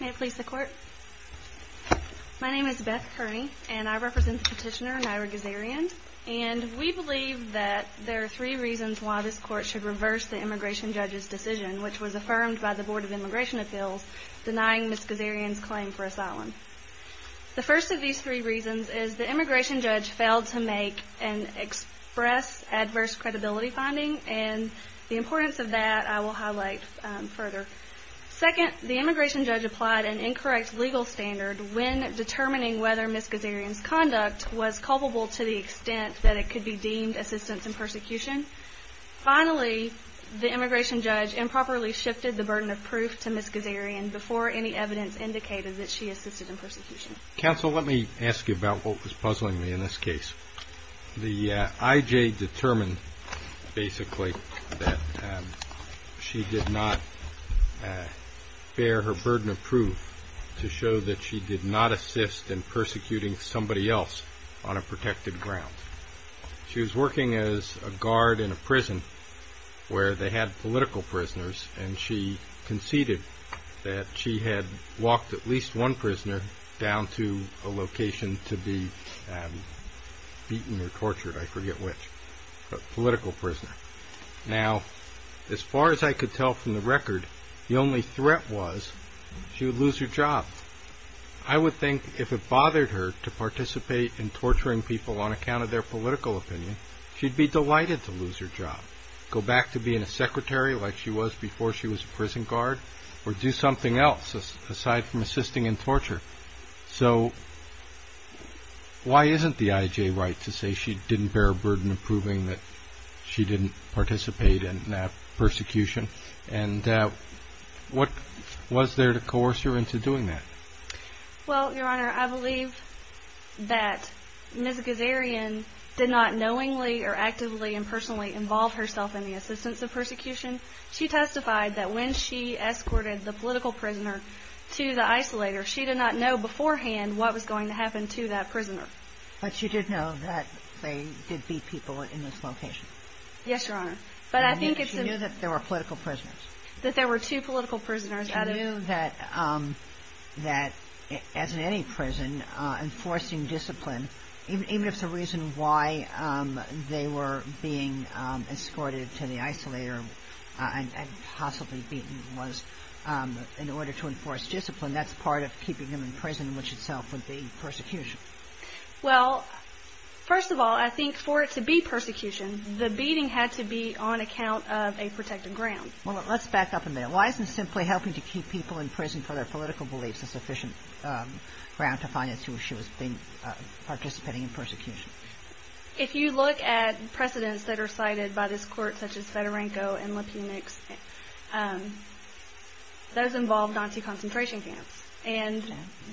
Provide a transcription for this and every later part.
May it please the court. My name is Beth Kearney and I represent Petitioner Nyra Ghazaryan and we believe that there are three reasons why this court should reverse the immigration judge's decision which was affirmed by the Board of Immigration Appeals denying Ms. Ghazaryan's claim for asylum. The first of these three reasons is the immigration judge failed to make and express adverse credibility finding and the importance of that I will highlight further. Second the immigration judge applied an incorrect legal standard when determining whether Ms. Ghazaryan's conduct was culpable to the extent that it could be deemed assistance in persecution. Finally the immigration judge improperly shifted the burden of proof to Ms. Ghazaryan before any evidence indicated that she assisted in persecution. Counsel let me ask you about what was puzzling me in this case. The IJ determined basically that she did not bear her burden of proof to show that she did not assist in persecuting somebody else on a protected ground. She was working as a guard in a prison where they had political prisoners and she conceded that she had walked at least one prisoner down to a location to be beaten or tortured, I forget which, but political prisoner. Now as far as I could tell from the record the only threat was she would lose her job. I would think if it bothered her to participate in torturing people on account of their political opinion she'd be delighted to lose her job, go back to being a secretary like she was before she was a in torture. So why isn't the IJ right to say she didn't bear a burden of proving that she didn't participate in that persecution and what was there to coerce her into doing that? Well your honor I believe that Ms. Ghazaryan did not knowingly or actively and personally involve herself in the assistance of persecution. She testified that when she escorted the political prisoner to the isolator she did not know beforehand what was going to happen to that prisoner. But you did know that they did beat people in this location? Yes your honor but I think it's... You knew that there were political prisoners? That there were two political prisoners. You knew that as in any prison enforcing discipline even if the reason why they were being escorted to the isolator and possibly beaten was in order to enforce discipline that's part of keeping them in prison which itself would be persecution. Well first of all I think for it to be persecution the beating had to be on account of a protected ground. Well let's back up a minute. Why isn't simply helping to keep people in prison for their political beliefs a sufficient ground to finance who she was being participating in persecution? If you look at precedents that are cited by this court such as those involved in concentration camps and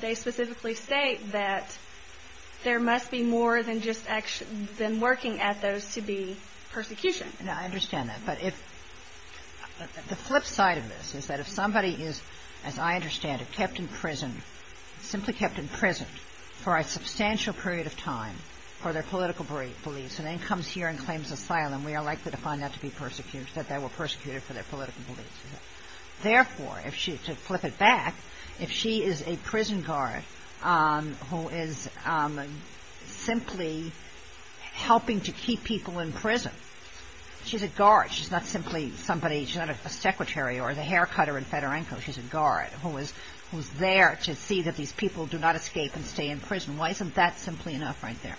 they specifically state that there must be more than just working at those to be persecution. Now I understand that but if the flip side of this is that if somebody is as I understand it kept in prison simply kept in prison for a substantial period of time for their political beliefs and then comes here and claims asylum we are likely to find that to be persecuted that they were persecuted for their political beliefs. Therefore if she took flip it back if she is a prison guard who is simply helping to keep people in prison she's a guard she's not simply somebody she's not a secretary or the hair cutter in Fedorenko she's a guard who is who's there to see that these people do not escape and stay in prison. Why isn't that simply enough right there?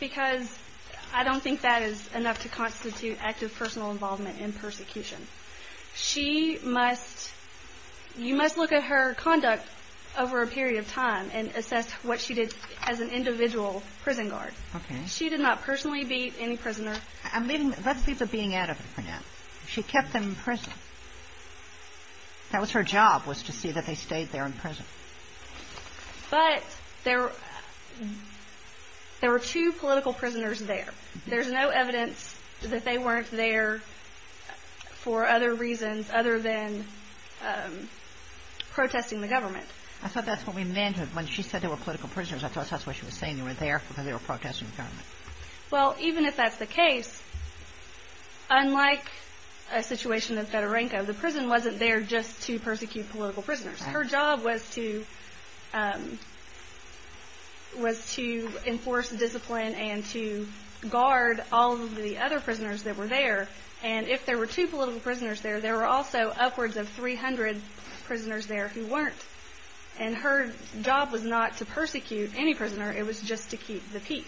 Because I don't think that is enough to constitute active personal involvement in persecution. She must you must look at her conduct over a period of time and assess what she did as an individual prison guard. She did not personally be any prisoner. I'm leaving let's leave the being out of it for now. She kept them in prison. That was her job was to see that they stayed there in prison. But there there were two political prisoners there there's no evidence that they weren't there for other reasons other than protesting the government. I thought that's what we meant when she said there were political prisoners I thought that's what she was saying they were there because they were protesting the government. Well even if that's the case unlike a situation of Fedorenko the prison wasn't there just to persecute political prisoners. Her job was to was to enforce discipline and to guard all of the other prisoners that were there and if there were two political prisoners there there were also upwards of 300 prisoners there who weren't and her job was not to persecute any prisoner it was just to keep the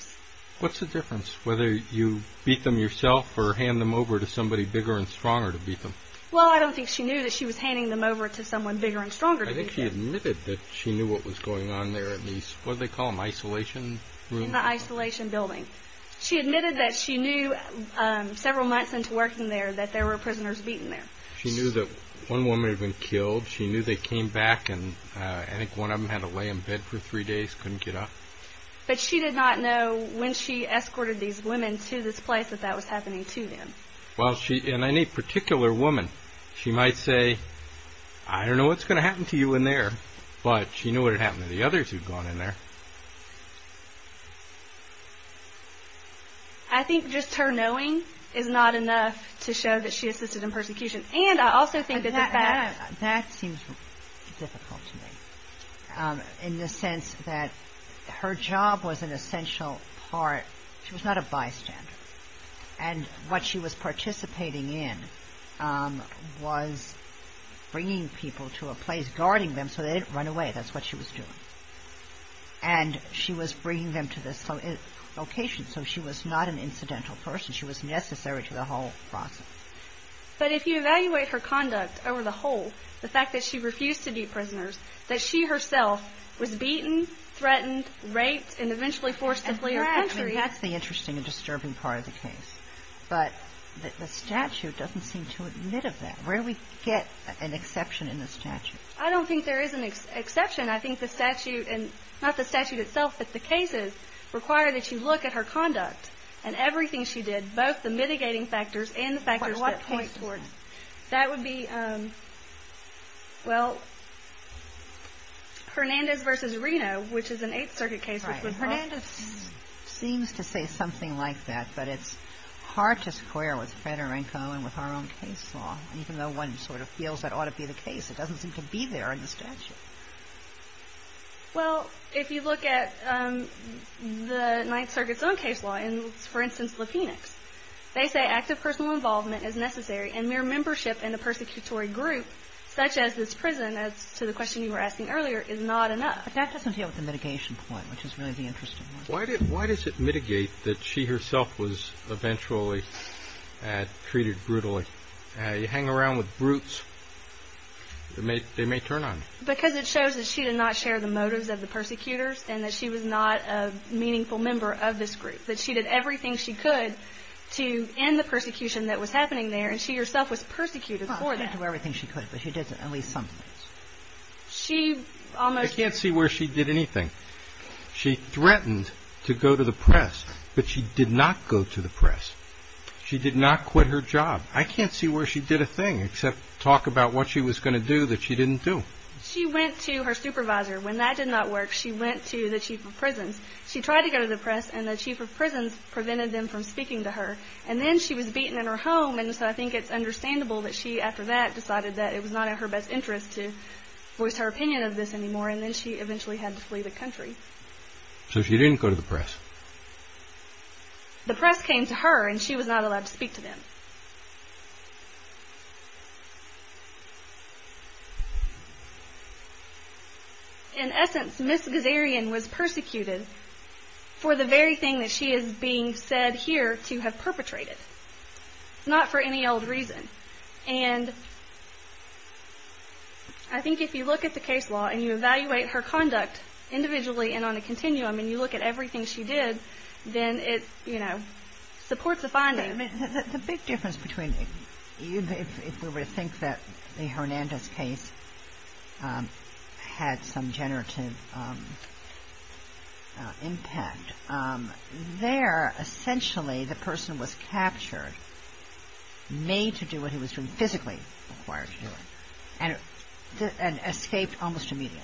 yourself or hand them over to somebody bigger and stronger to beat them. Well I don't think she knew that she was handing them over to someone bigger and stronger. I think she admitted that she knew what was going on there at least what they call them isolation room? The isolation building. She admitted that she knew several months into working there that there were prisoners beaten there. She knew that one woman had been killed she knew they came back and I think one of them had to lay in bed for three days couldn't get up. But she did not know when she escorted these women to this place that that was happening to them. Well she in any particular woman she might say I don't know what's gonna happen to you in there but she knew what had happened to the others who'd gone in there. I think just her knowing is not enough to show that she assisted in persecution and I also think that. That seems difficult to me in the sense that her job was an essential part she was not a bystander and what she was participating in was bringing people to a place guarding them so they didn't run away that's what she was doing. And she was bringing them to this location so she was not an incidental person she was necessary to the whole process. But if you evaluate her conduct over the whole the fact that she refused to be prisoners that she herself was beaten, threatened, raped, and eventually forced to flee her country. That's the interesting and disturbing part of the case but the statute doesn't seem to admit of that. Where do we get an exception in the statute? I don't think there is an exception I think the statute and not the statute itself but the cases require that you look at her conduct and everything she did both the Hernandez versus Reno which is an Eighth Circuit case. Hernandez seems to say something like that but it's hard to square with Federico and with our own case law even though one sort of feels that ought to be the case it doesn't seem to be there in the statute. Well if you look at the Ninth Circuit's own case law and for instance the Phoenix they say active personal involvement is necessary and mere membership in the persecutory group such as this prison as to the question you were asking earlier is not enough. That doesn't deal with the mitigation point which is really the interesting one. Why does it mitigate that she herself was eventually treated brutally? You hang around with brutes they may turn on you. Because it shows that she did not share the motives of the persecutors and that she was not a meaningful member of this group that she did everything she could to end the persecution that was happening there and she herself was persecuted for that. Well she didn't do everything she could. I can't see where she did anything. She threatened to go to the press but she did not go to the press. She did not quit her job. I can't see where she did a thing except talk about what she was going to do that she didn't do. She went to her supervisor when that did not work she went to the chief of prisons. She tried to go to the press and the chief of prisons prevented them from speaking to her and then she was beaten in her home and so I think it's understandable that she after that decided that it was not in her best interest to voice her opinion of this anymore and then she eventually had to flee the country. So she didn't go to the press? The press came to her and she was not allowed to speak to them. In essence Miss Gazarian was persecuted for the very thing that she is being said here to have perpetrated. Not for any old reason and I think if you look at the case law and you evaluate her conduct individually and on a continuum and you look at everything she did then it you know supports a finding. The big difference between if we were to think that the Hernandez case had some generative impact there essentially the person was captured made to do what he was doing physically and escaped almost immediately.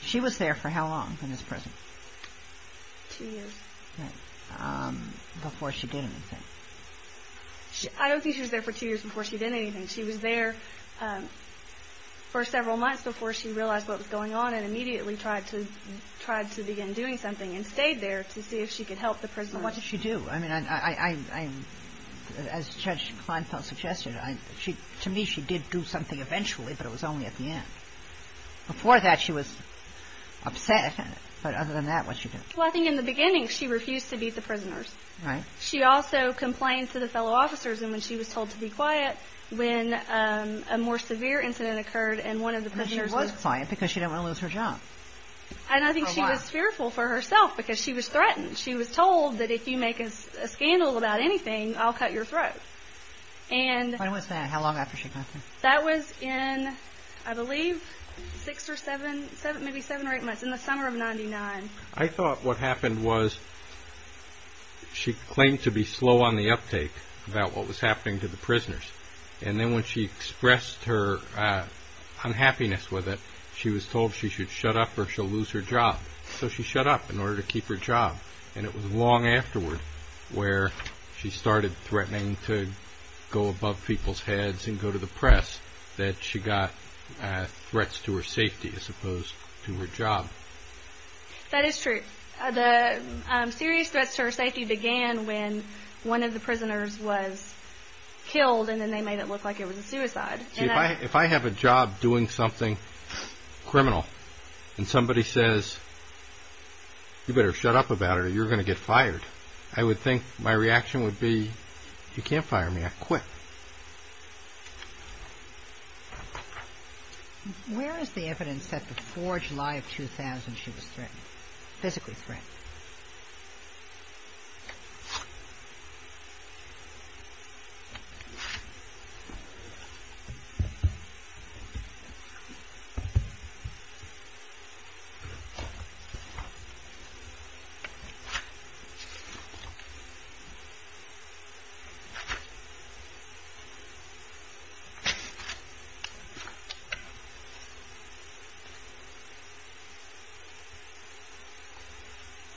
She was there for how long in this prison? Two years. Before she did anything? I don't think she was there for two years before she did what was going on and immediately tried to try to begin doing something and stayed there to see if she could help the prisoners. What did she do? I mean as Judge Kleinfeld suggested to me she did do something eventually but it was only at the end. Before that she was upset but other than that what did she do? Well I think in the beginning she refused to beat the prisoners. Right. She also complained to the fellow officers and when she was told to be quiet when a more severe incident occurred and one of the prisoners was quiet because she didn't want to lose her job. And I think she was fearful for herself because she was threatened. She was told that if you make a scandal about anything I'll cut your throat. When was that? How long after she got there? That was in I believe six or seven maybe seven or eight months in the summer of 99. I thought what happened was she claimed to be slow on the uptake about what was happening to the prisoners and then when she expressed her unhappiness with it she was told she should shut up or she'll lose her job. So she shut up in order to keep her job and it was long afterward where she started threatening to go above people's heads and go to the press that she got threats to her safety as opposed to her job. That is true. The serious threats to her safety began when one of the prisoners was killed and then they made it look like it was a suicide. If I have a job doing something criminal and somebody says you better shut up about it or you're going to get fired. I would think my reaction would be you can't fire me. I quit. Where is the evidence that before July of 2000 she was threatened? Physically threatened?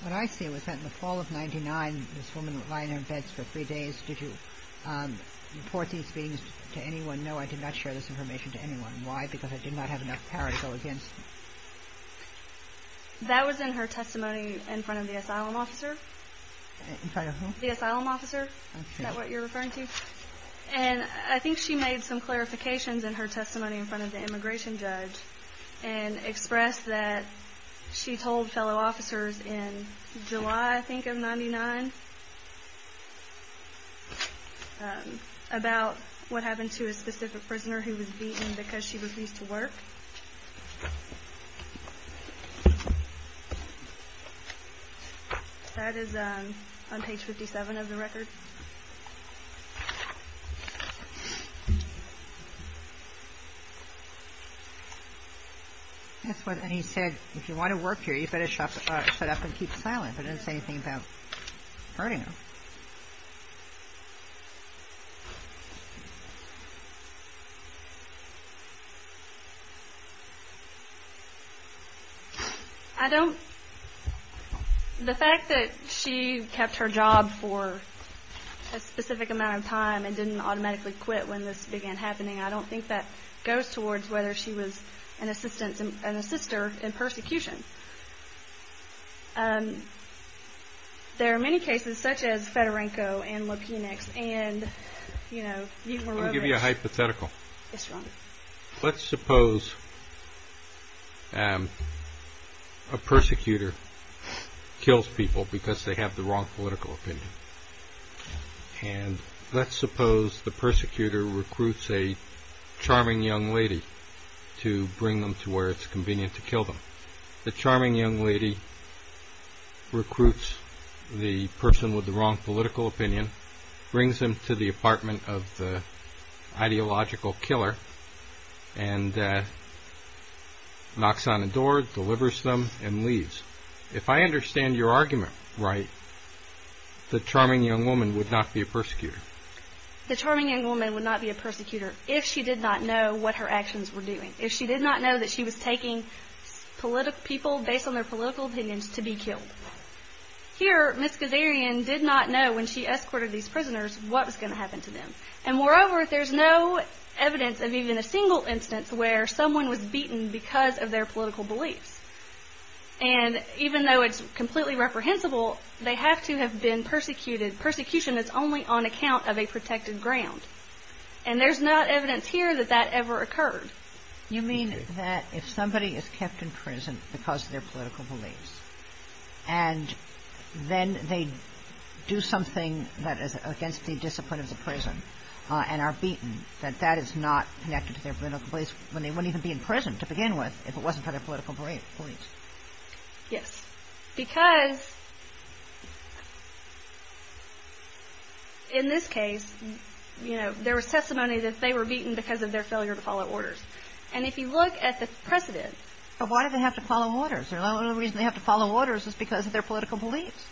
What I see was that in the fall of 99 this woman was lying in her beds for three days. Did you report these things to anyone? No I did not share this information to anyone. Why? Because I did not have enough power to go against me. That was in her testimony in front of the asylum officer. The asylum officer? Is that what you're referring to? And I think she made some clarifications in her testimony in front of the immigration judge and expressed that she told fellow officers in July I think of 99 about what happened to a specific prisoner who was beaten because she refused to work. That is on page 57 of the record. And he said if you want to work here you better shut up and keep silent. He didn't say anything about hurting her. I don't, the fact that she kept her job for a specific amount of time and didn't automatically quit when this began happening I don't think that goes towards whether she was an assistant, an assister in persecution. There are many cases such as Fedorenko and Lapinex and you know. The charming young lady recruits the person with the wrong political opinion, brings them to the apartment of the ideological killer and knocks on the door, delivers them and leaves. If I understand your argument right, the charming young woman would not be a persecutor? The charming young woman would not be a persecutor if she did not know what her actions were doing. If she did not know that she was taking people based on their political opinions to be killed. Here, Ms. Gazarian did not know when she escorted these prisoners what was going to happen to them and moreover there's no evidence of even a single instance where someone was beaten because of their political beliefs. And even though it's completely reprehensible, they have to have been persecuted. Persecution is only on account of a protected ground. And there's not evidence here that that ever occurred. You mean that if somebody is kept in prison because of their political beliefs and then they do something that is against the discipline of the prison and are beaten, that that is not connected to their political beliefs when they wouldn't even be in prison to begin with if it wasn't for their political beliefs? Yes. Because in this case, you know, there was testimony that they were beaten because of their failure to follow orders. And if you look at the precedent... But why do they have to follow orders? The only reason they have to follow orders is because of their political beliefs.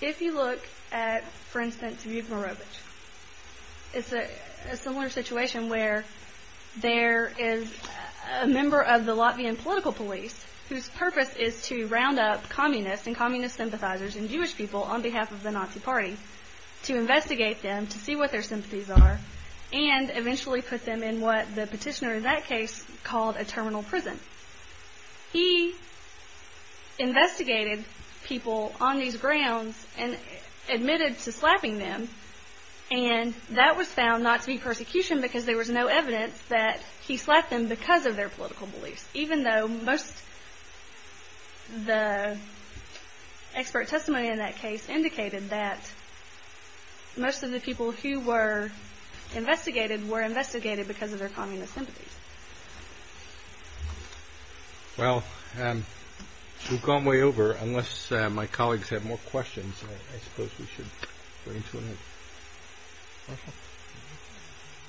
If you look at, for instance, Vyborowicz, it's a similar situation where there is a member of the Latvian political police whose purpose is to round up communists and communist sympathizers and Jewish people on behalf of the Nazi party to investigate them to see what their sympathies are and eventually put them in what the petitioner in that case called a terminal prison. He investigated people on these grounds and admitted to slapping them. And that was found not to be persecution because there was no evidence that he slapped them because of their political beliefs, even though most of the expert testimony in that case indicated that most of the people who were investigated were investigated because of their communist sympathies. Well, we've gone way over. Unless my colleagues have more questions, I suppose we should bring to an end.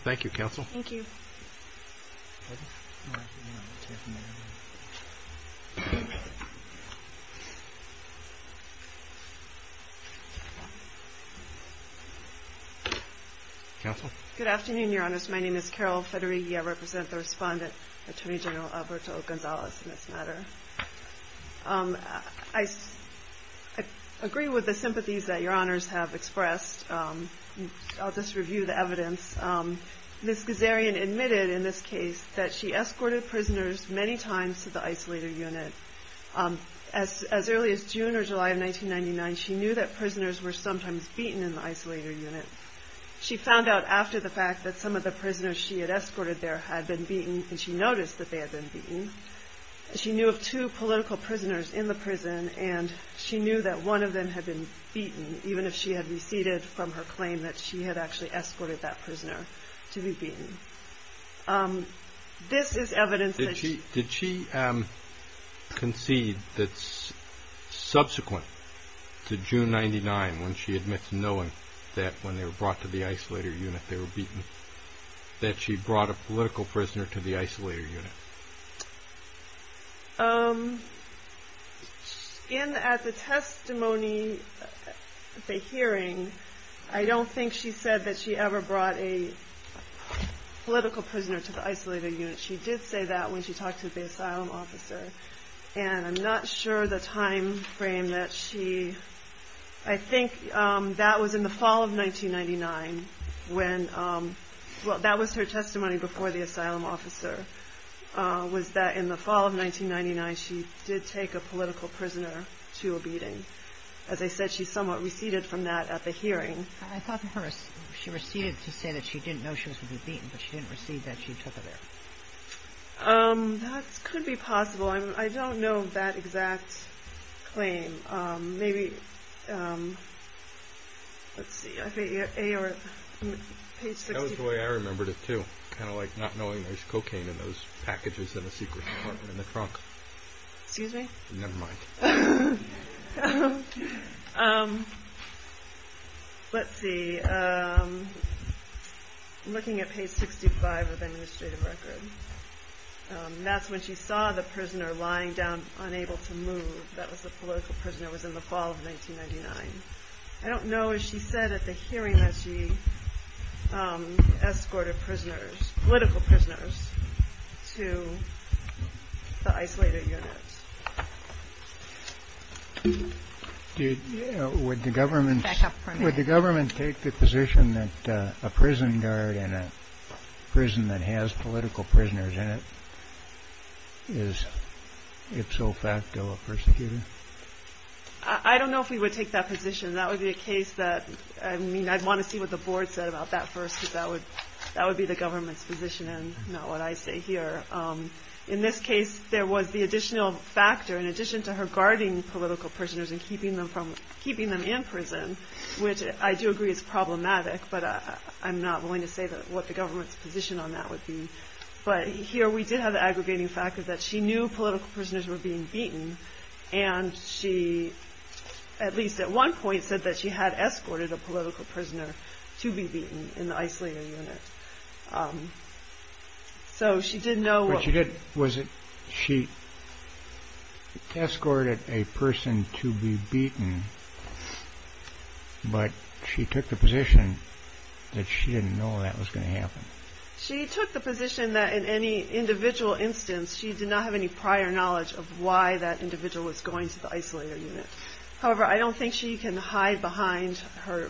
Thank you, counsel. Thank you. Good afternoon, your honors. My name is Carol Federighi. I represent the respondent, Attorney General Alberto Gonzalez, in this matter. I agree with the sympathies that your honors have expressed. I'll just review the evidence. Ms. Gazarian admitted in this case that she escorted prisoners many times to the isolator unit. As early as June or July of 1999, she knew that prisoners were sometimes beaten in the isolator unit. She found out after the fact that some of the prisoners she had escorted there had been beaten, and she noticed that they had been beaten. She knew of two political prisoners in the prison, and she knew that one of them had been beaten, even if she had receded from her claim that she had actually escorted that prisoner to be beaten. Did she concede that subsequent to June 1999, when she admits knowing that when they were brought to the isolator unit, they were beaten, that she brought a political prisoner to the isolator unit? At the testimony, the hearing, I don't think she said that she ever brought a political prisoner to the isolator unit. She did say that when she talked to the asylum officer, and I'm not sure the time frame that she... I think that was in the fall of 1999, when... well, that was her testimony before the asylum officer, was that in the fall of 1999, she did take a political prisoner to a beating. As I said, she somewhat receded from that at the hearing. I thought she receded to say that she didn't know she was going to be beaten, but she didn't recede, that she took her there. That could be possible. I don't know that exact claim. Maybe... let's see... That was the way I remembered it, too. Kind of like not knowing there's cocaine in those packages in a secret compartment in the trunk. Excuse me? Never mind. Let's see. Looking at page 65 of the administrative record. That's when she saw the prisoner lying down, unable to move. That was the political prisoner. That was in the fall of 1999. I don't know if she said at the hearing that she escorted political prisoners to the isolated units. Would the government take the position that a prison guard in a prison that has political prisoners in it is ipso facto a persecutor? I don't know if we would take that position. That would be a case that... I'd want to see what the board said about that first. That would be the government's position and not what I say here. In this case, there was the additional factor, in addition to her guarding political prisoners and keeping them in prison, which I do agree is problematic. But I'm not willing to say what the government's position on that would be. But here we did have the aggregating factor that she knew political prisoners were being beaten. And she, at least at one point, said that she had escorted a political prisoner to be beaten in the isolated unit. So she didn't know... She escorted a person to be beaten, but she took the position that she didn't know that was going to happen. She took the position that in any individual instance, she did not have any prior knowledge of why that individual was going to the isolated unit. However, I don't think she can hide behind her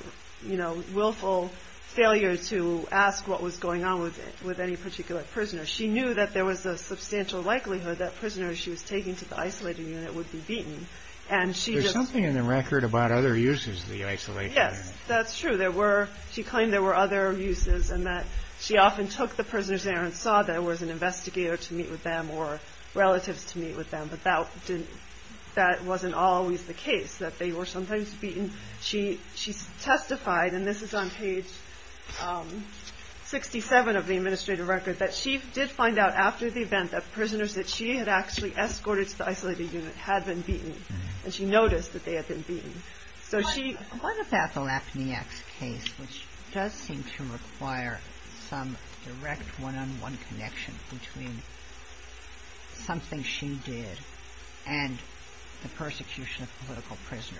willful failure to ask what was going on with any particular prisoner. She knew that there was a substantial likelihood that prisoners she was taking to the isolated unit would be beaten. There's something in the record about other uses of the isolated unit. That's true. She claimed there were other uses and that she often took the prisoners there and saw there was an investigator to meet with them or relatives to meet with them. But that wasn't always the case, that they were sometimes beaten. She testified, and this is on page 67 of the administrative record, that she did find out after the event that prisoners that she had actually escorted to the isolated unit had been beaten. And she noticed that they had been beaten. What about the Lapinex case, which does seem to require some direct one-on-one connection between something she did and the persecution of a political prisoner?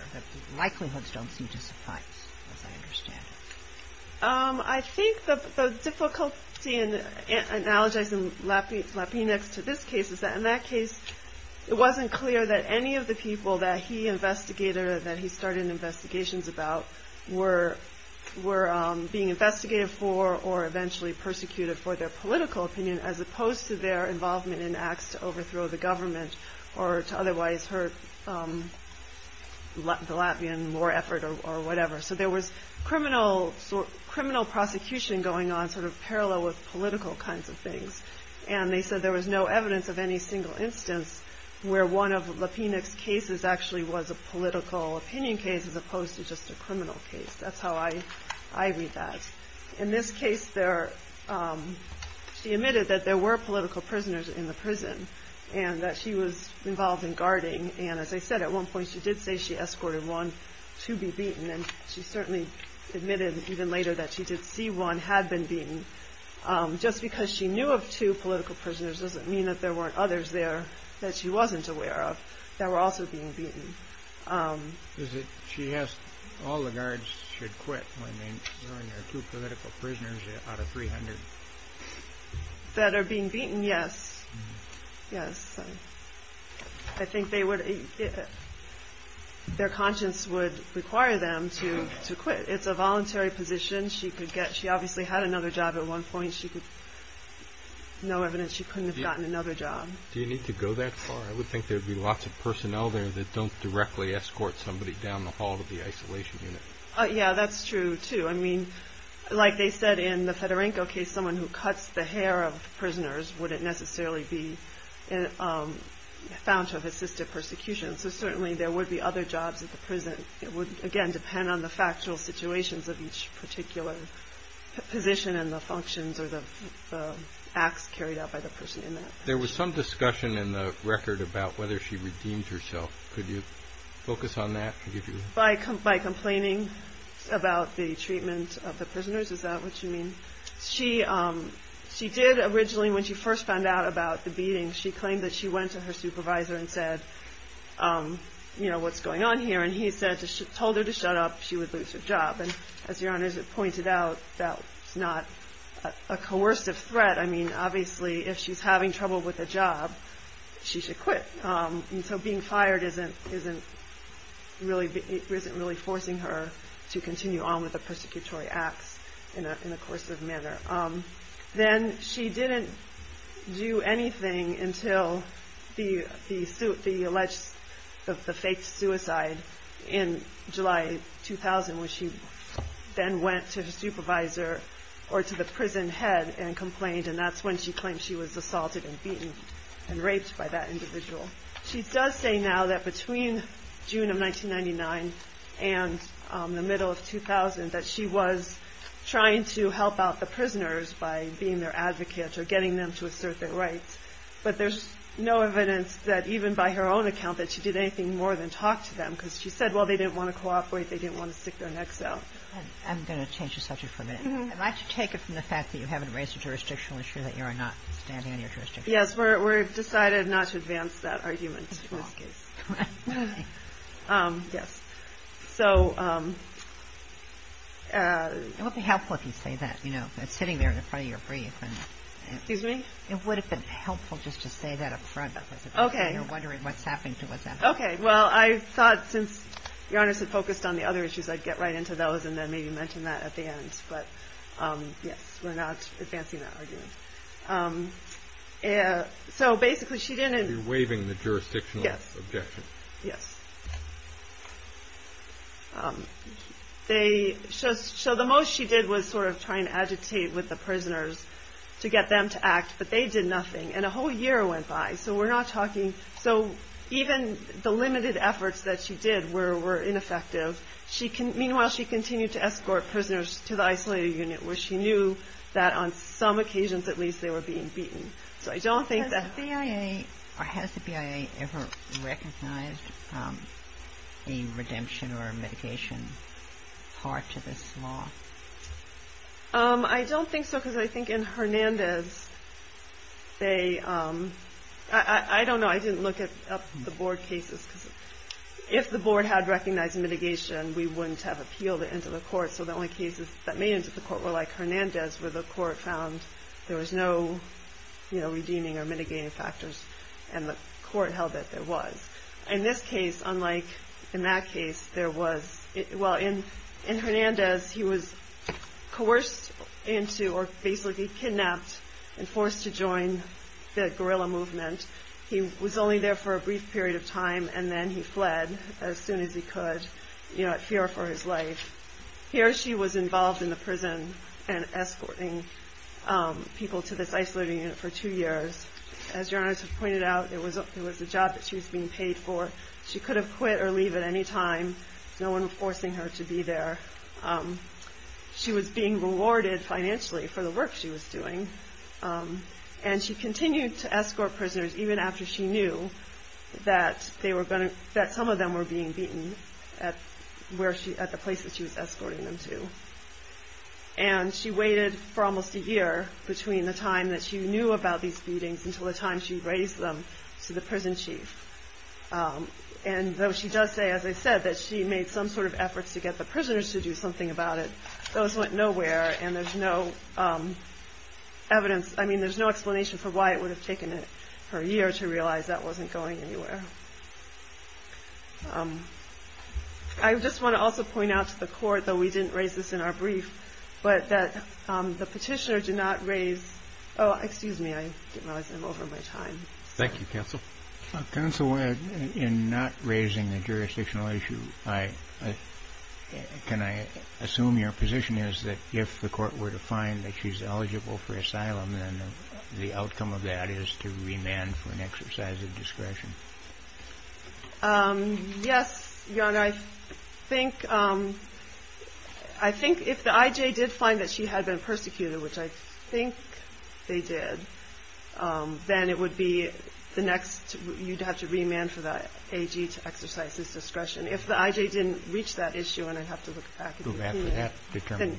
Likelihoods don't seem to suffice, as I understand it. I think the difficulty in analogizing Lapinex to this case is that in that case, it wasn't clear that any of the people that he started investigations about were being investigated for or eventually persecuted for their political opinion as opposed to their involvement in acts to overthrow the government or to otherwise hurt the Latvian war effort or whatever. So there was criminal prosecution going on sort of parallel with political kinds of things. And they said there was no evidence of any single instance where one of Lapinex's cases actually was a political opinion case as opposed to just a criminal case. That's how I read that. In this case, she admitted that there were political prisoners in the prison and that she was involved in guarding. And as I said, at one point she did say she escorted one to be beaten. And she certainly admitted even later that she did see one had been beaten. Just because she knew of two political prisoners doesn't mean that there weren't others there that she wasn't aware of that were also being beaten. She asked all the guards should quit when there are two political prisoners out of 300. That are being beaten, yes. I think their conscience would require them to quit. It's a voluntary position. She obviously had another job at one point. No evidence she couldn't have gotten another job. Do you need to go that far? I would think there would be lots of personnel there that don't directly escort somebody down the hall to the isolation unit. Yeah, that's true too. Like they said in the Fedorenko case, someone who cuts the hair of prisoners wouldn't necessarily be found to have assisted persecution. So certainly there would be other jobs at the prison. It would again depend on the factual situations of each particular position and the functions or the acts carried out by the person in that. There was some discussion in the record about whether she redeemed herself. Could you focus on that? By complaining about the treatment of the prisoners? Is that what you mean? She did originally when she first found out about the beating. She claimed that she went to her supervisor and said, you know, what's going on here? And he told her to shut up. She would lose her job. And as your honor pointed out, that's not a coercive threat. I mean obviously if she's having trouble with a job, she should quit. So being fired isn't really forcing her to continue on with the persecutory acts in a coercive manner. Then she didn't do anything until the alleged, the fake suicide in July 2000 when she then went to her supervisor or to the prison head and complained. And that's when she claimed she was assaulted and beaten and raped by that individual. She does say now that between June of 1999 and the middle of 2000 that she was trying to help out the prisoners by being their advocate or getting them to assert their rights. But there's no evidence that even by her own account that she did anything more than talk to them. Because she said, well, they didn't want to cooperate. They didn't want to stick their necks out. I'm going to change the subject for a minute. I'd like to take it from the fact that you haven't raised a jurisdictional issue that you're not standing on your jurisdiction. Yes, we've decided not to advance that argument in this case. Yes. So... It would be helpful if you say that, you know, sitting there in front of your brief. Excuse me? It would have been helpful just to say that up front. Okay. You're wondering what's happening to what's happening. Okay, well, I thought since your honors had focused on the other issues, I'd get right into those and then maybe mention that at the end. But, yes, we're not advancing that argument. So basically she didn't... You're waiving the jurisdictional objection. Yes. Yes. They... So the most she did was sort of try and agitate with the prisoners to get them to act. But they did nothing. And a whole year went by. So we're not talking... So even the limited efforts that she did were ineffective. Meanwhile, she continued to escort prisoners to the isolated unit where she knew that on some occasions, at least, they were being beaten. So I don't think that... Has the BIA ever recognized a redemption or a mitigation part to this law? I don't think so because I think in Hernandez, they... I don't know. I didn't look up the board cases. If the board had recognized mitigation, we wouldn't have appealed it into the court. So the only cases that made it into the court were like Hernandez where the court found there was no redeeming or mitigating factors. And the court held that there was. In this case, unlike in that case, there was... Well, in Hernandez, he was coerced into or basically kidnapped and forced to join the guerrilla movement. He was only there for a brief period of time and then he fled as soon as he could, you know, at fear for his life. Here she was involved in the prison and escorting people to this isolated unit for two years. As your Honor has pointed out, it was a job that she was being paid for. She could have quit or leave at any time. No one was forcing her to be there. She was being rewarded financially for the work she was doing. And she continued to escort prisoners even after she knew that some of them were being beaten at the places she was escorting them to. And she waited for almost a year between the time that she knew about these beatings until the time she raised them to the prison chief. And though she does say, as I said, that she made some sort of efforts to get the prisoners to do something about it, those went nowhere. And there's no evidence, I mean, there's no explanation for why it would have taken her a year to realize that wasn't going anywhere. I just want to also point out to the court, though we didn't raise this in our brief, but that the petitioner did not raise... Oh, excuse me, I didn't realize I'm over my time. Thank you, Counsel. Counsel, in not raising a jurisdictional issue, can I assume your position is that if a person is being tortured, if the court were to find that she's eligible for asylum, then the outcome of that is to remand for an exercise of discretion? Yes, Your Honor, I think if the I.J. did find that she had been persecuted, which I think they did, then it would be the next... you'd have to remand for the A.G. to exercise his discretion. If the I.J. didn't reach that issue, and I'd have to look back... I'd have to go back to that determination.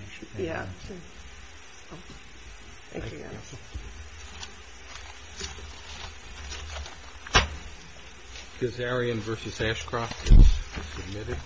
Thank you, Your Honor. Kazarian v. Ashcroft is submitted.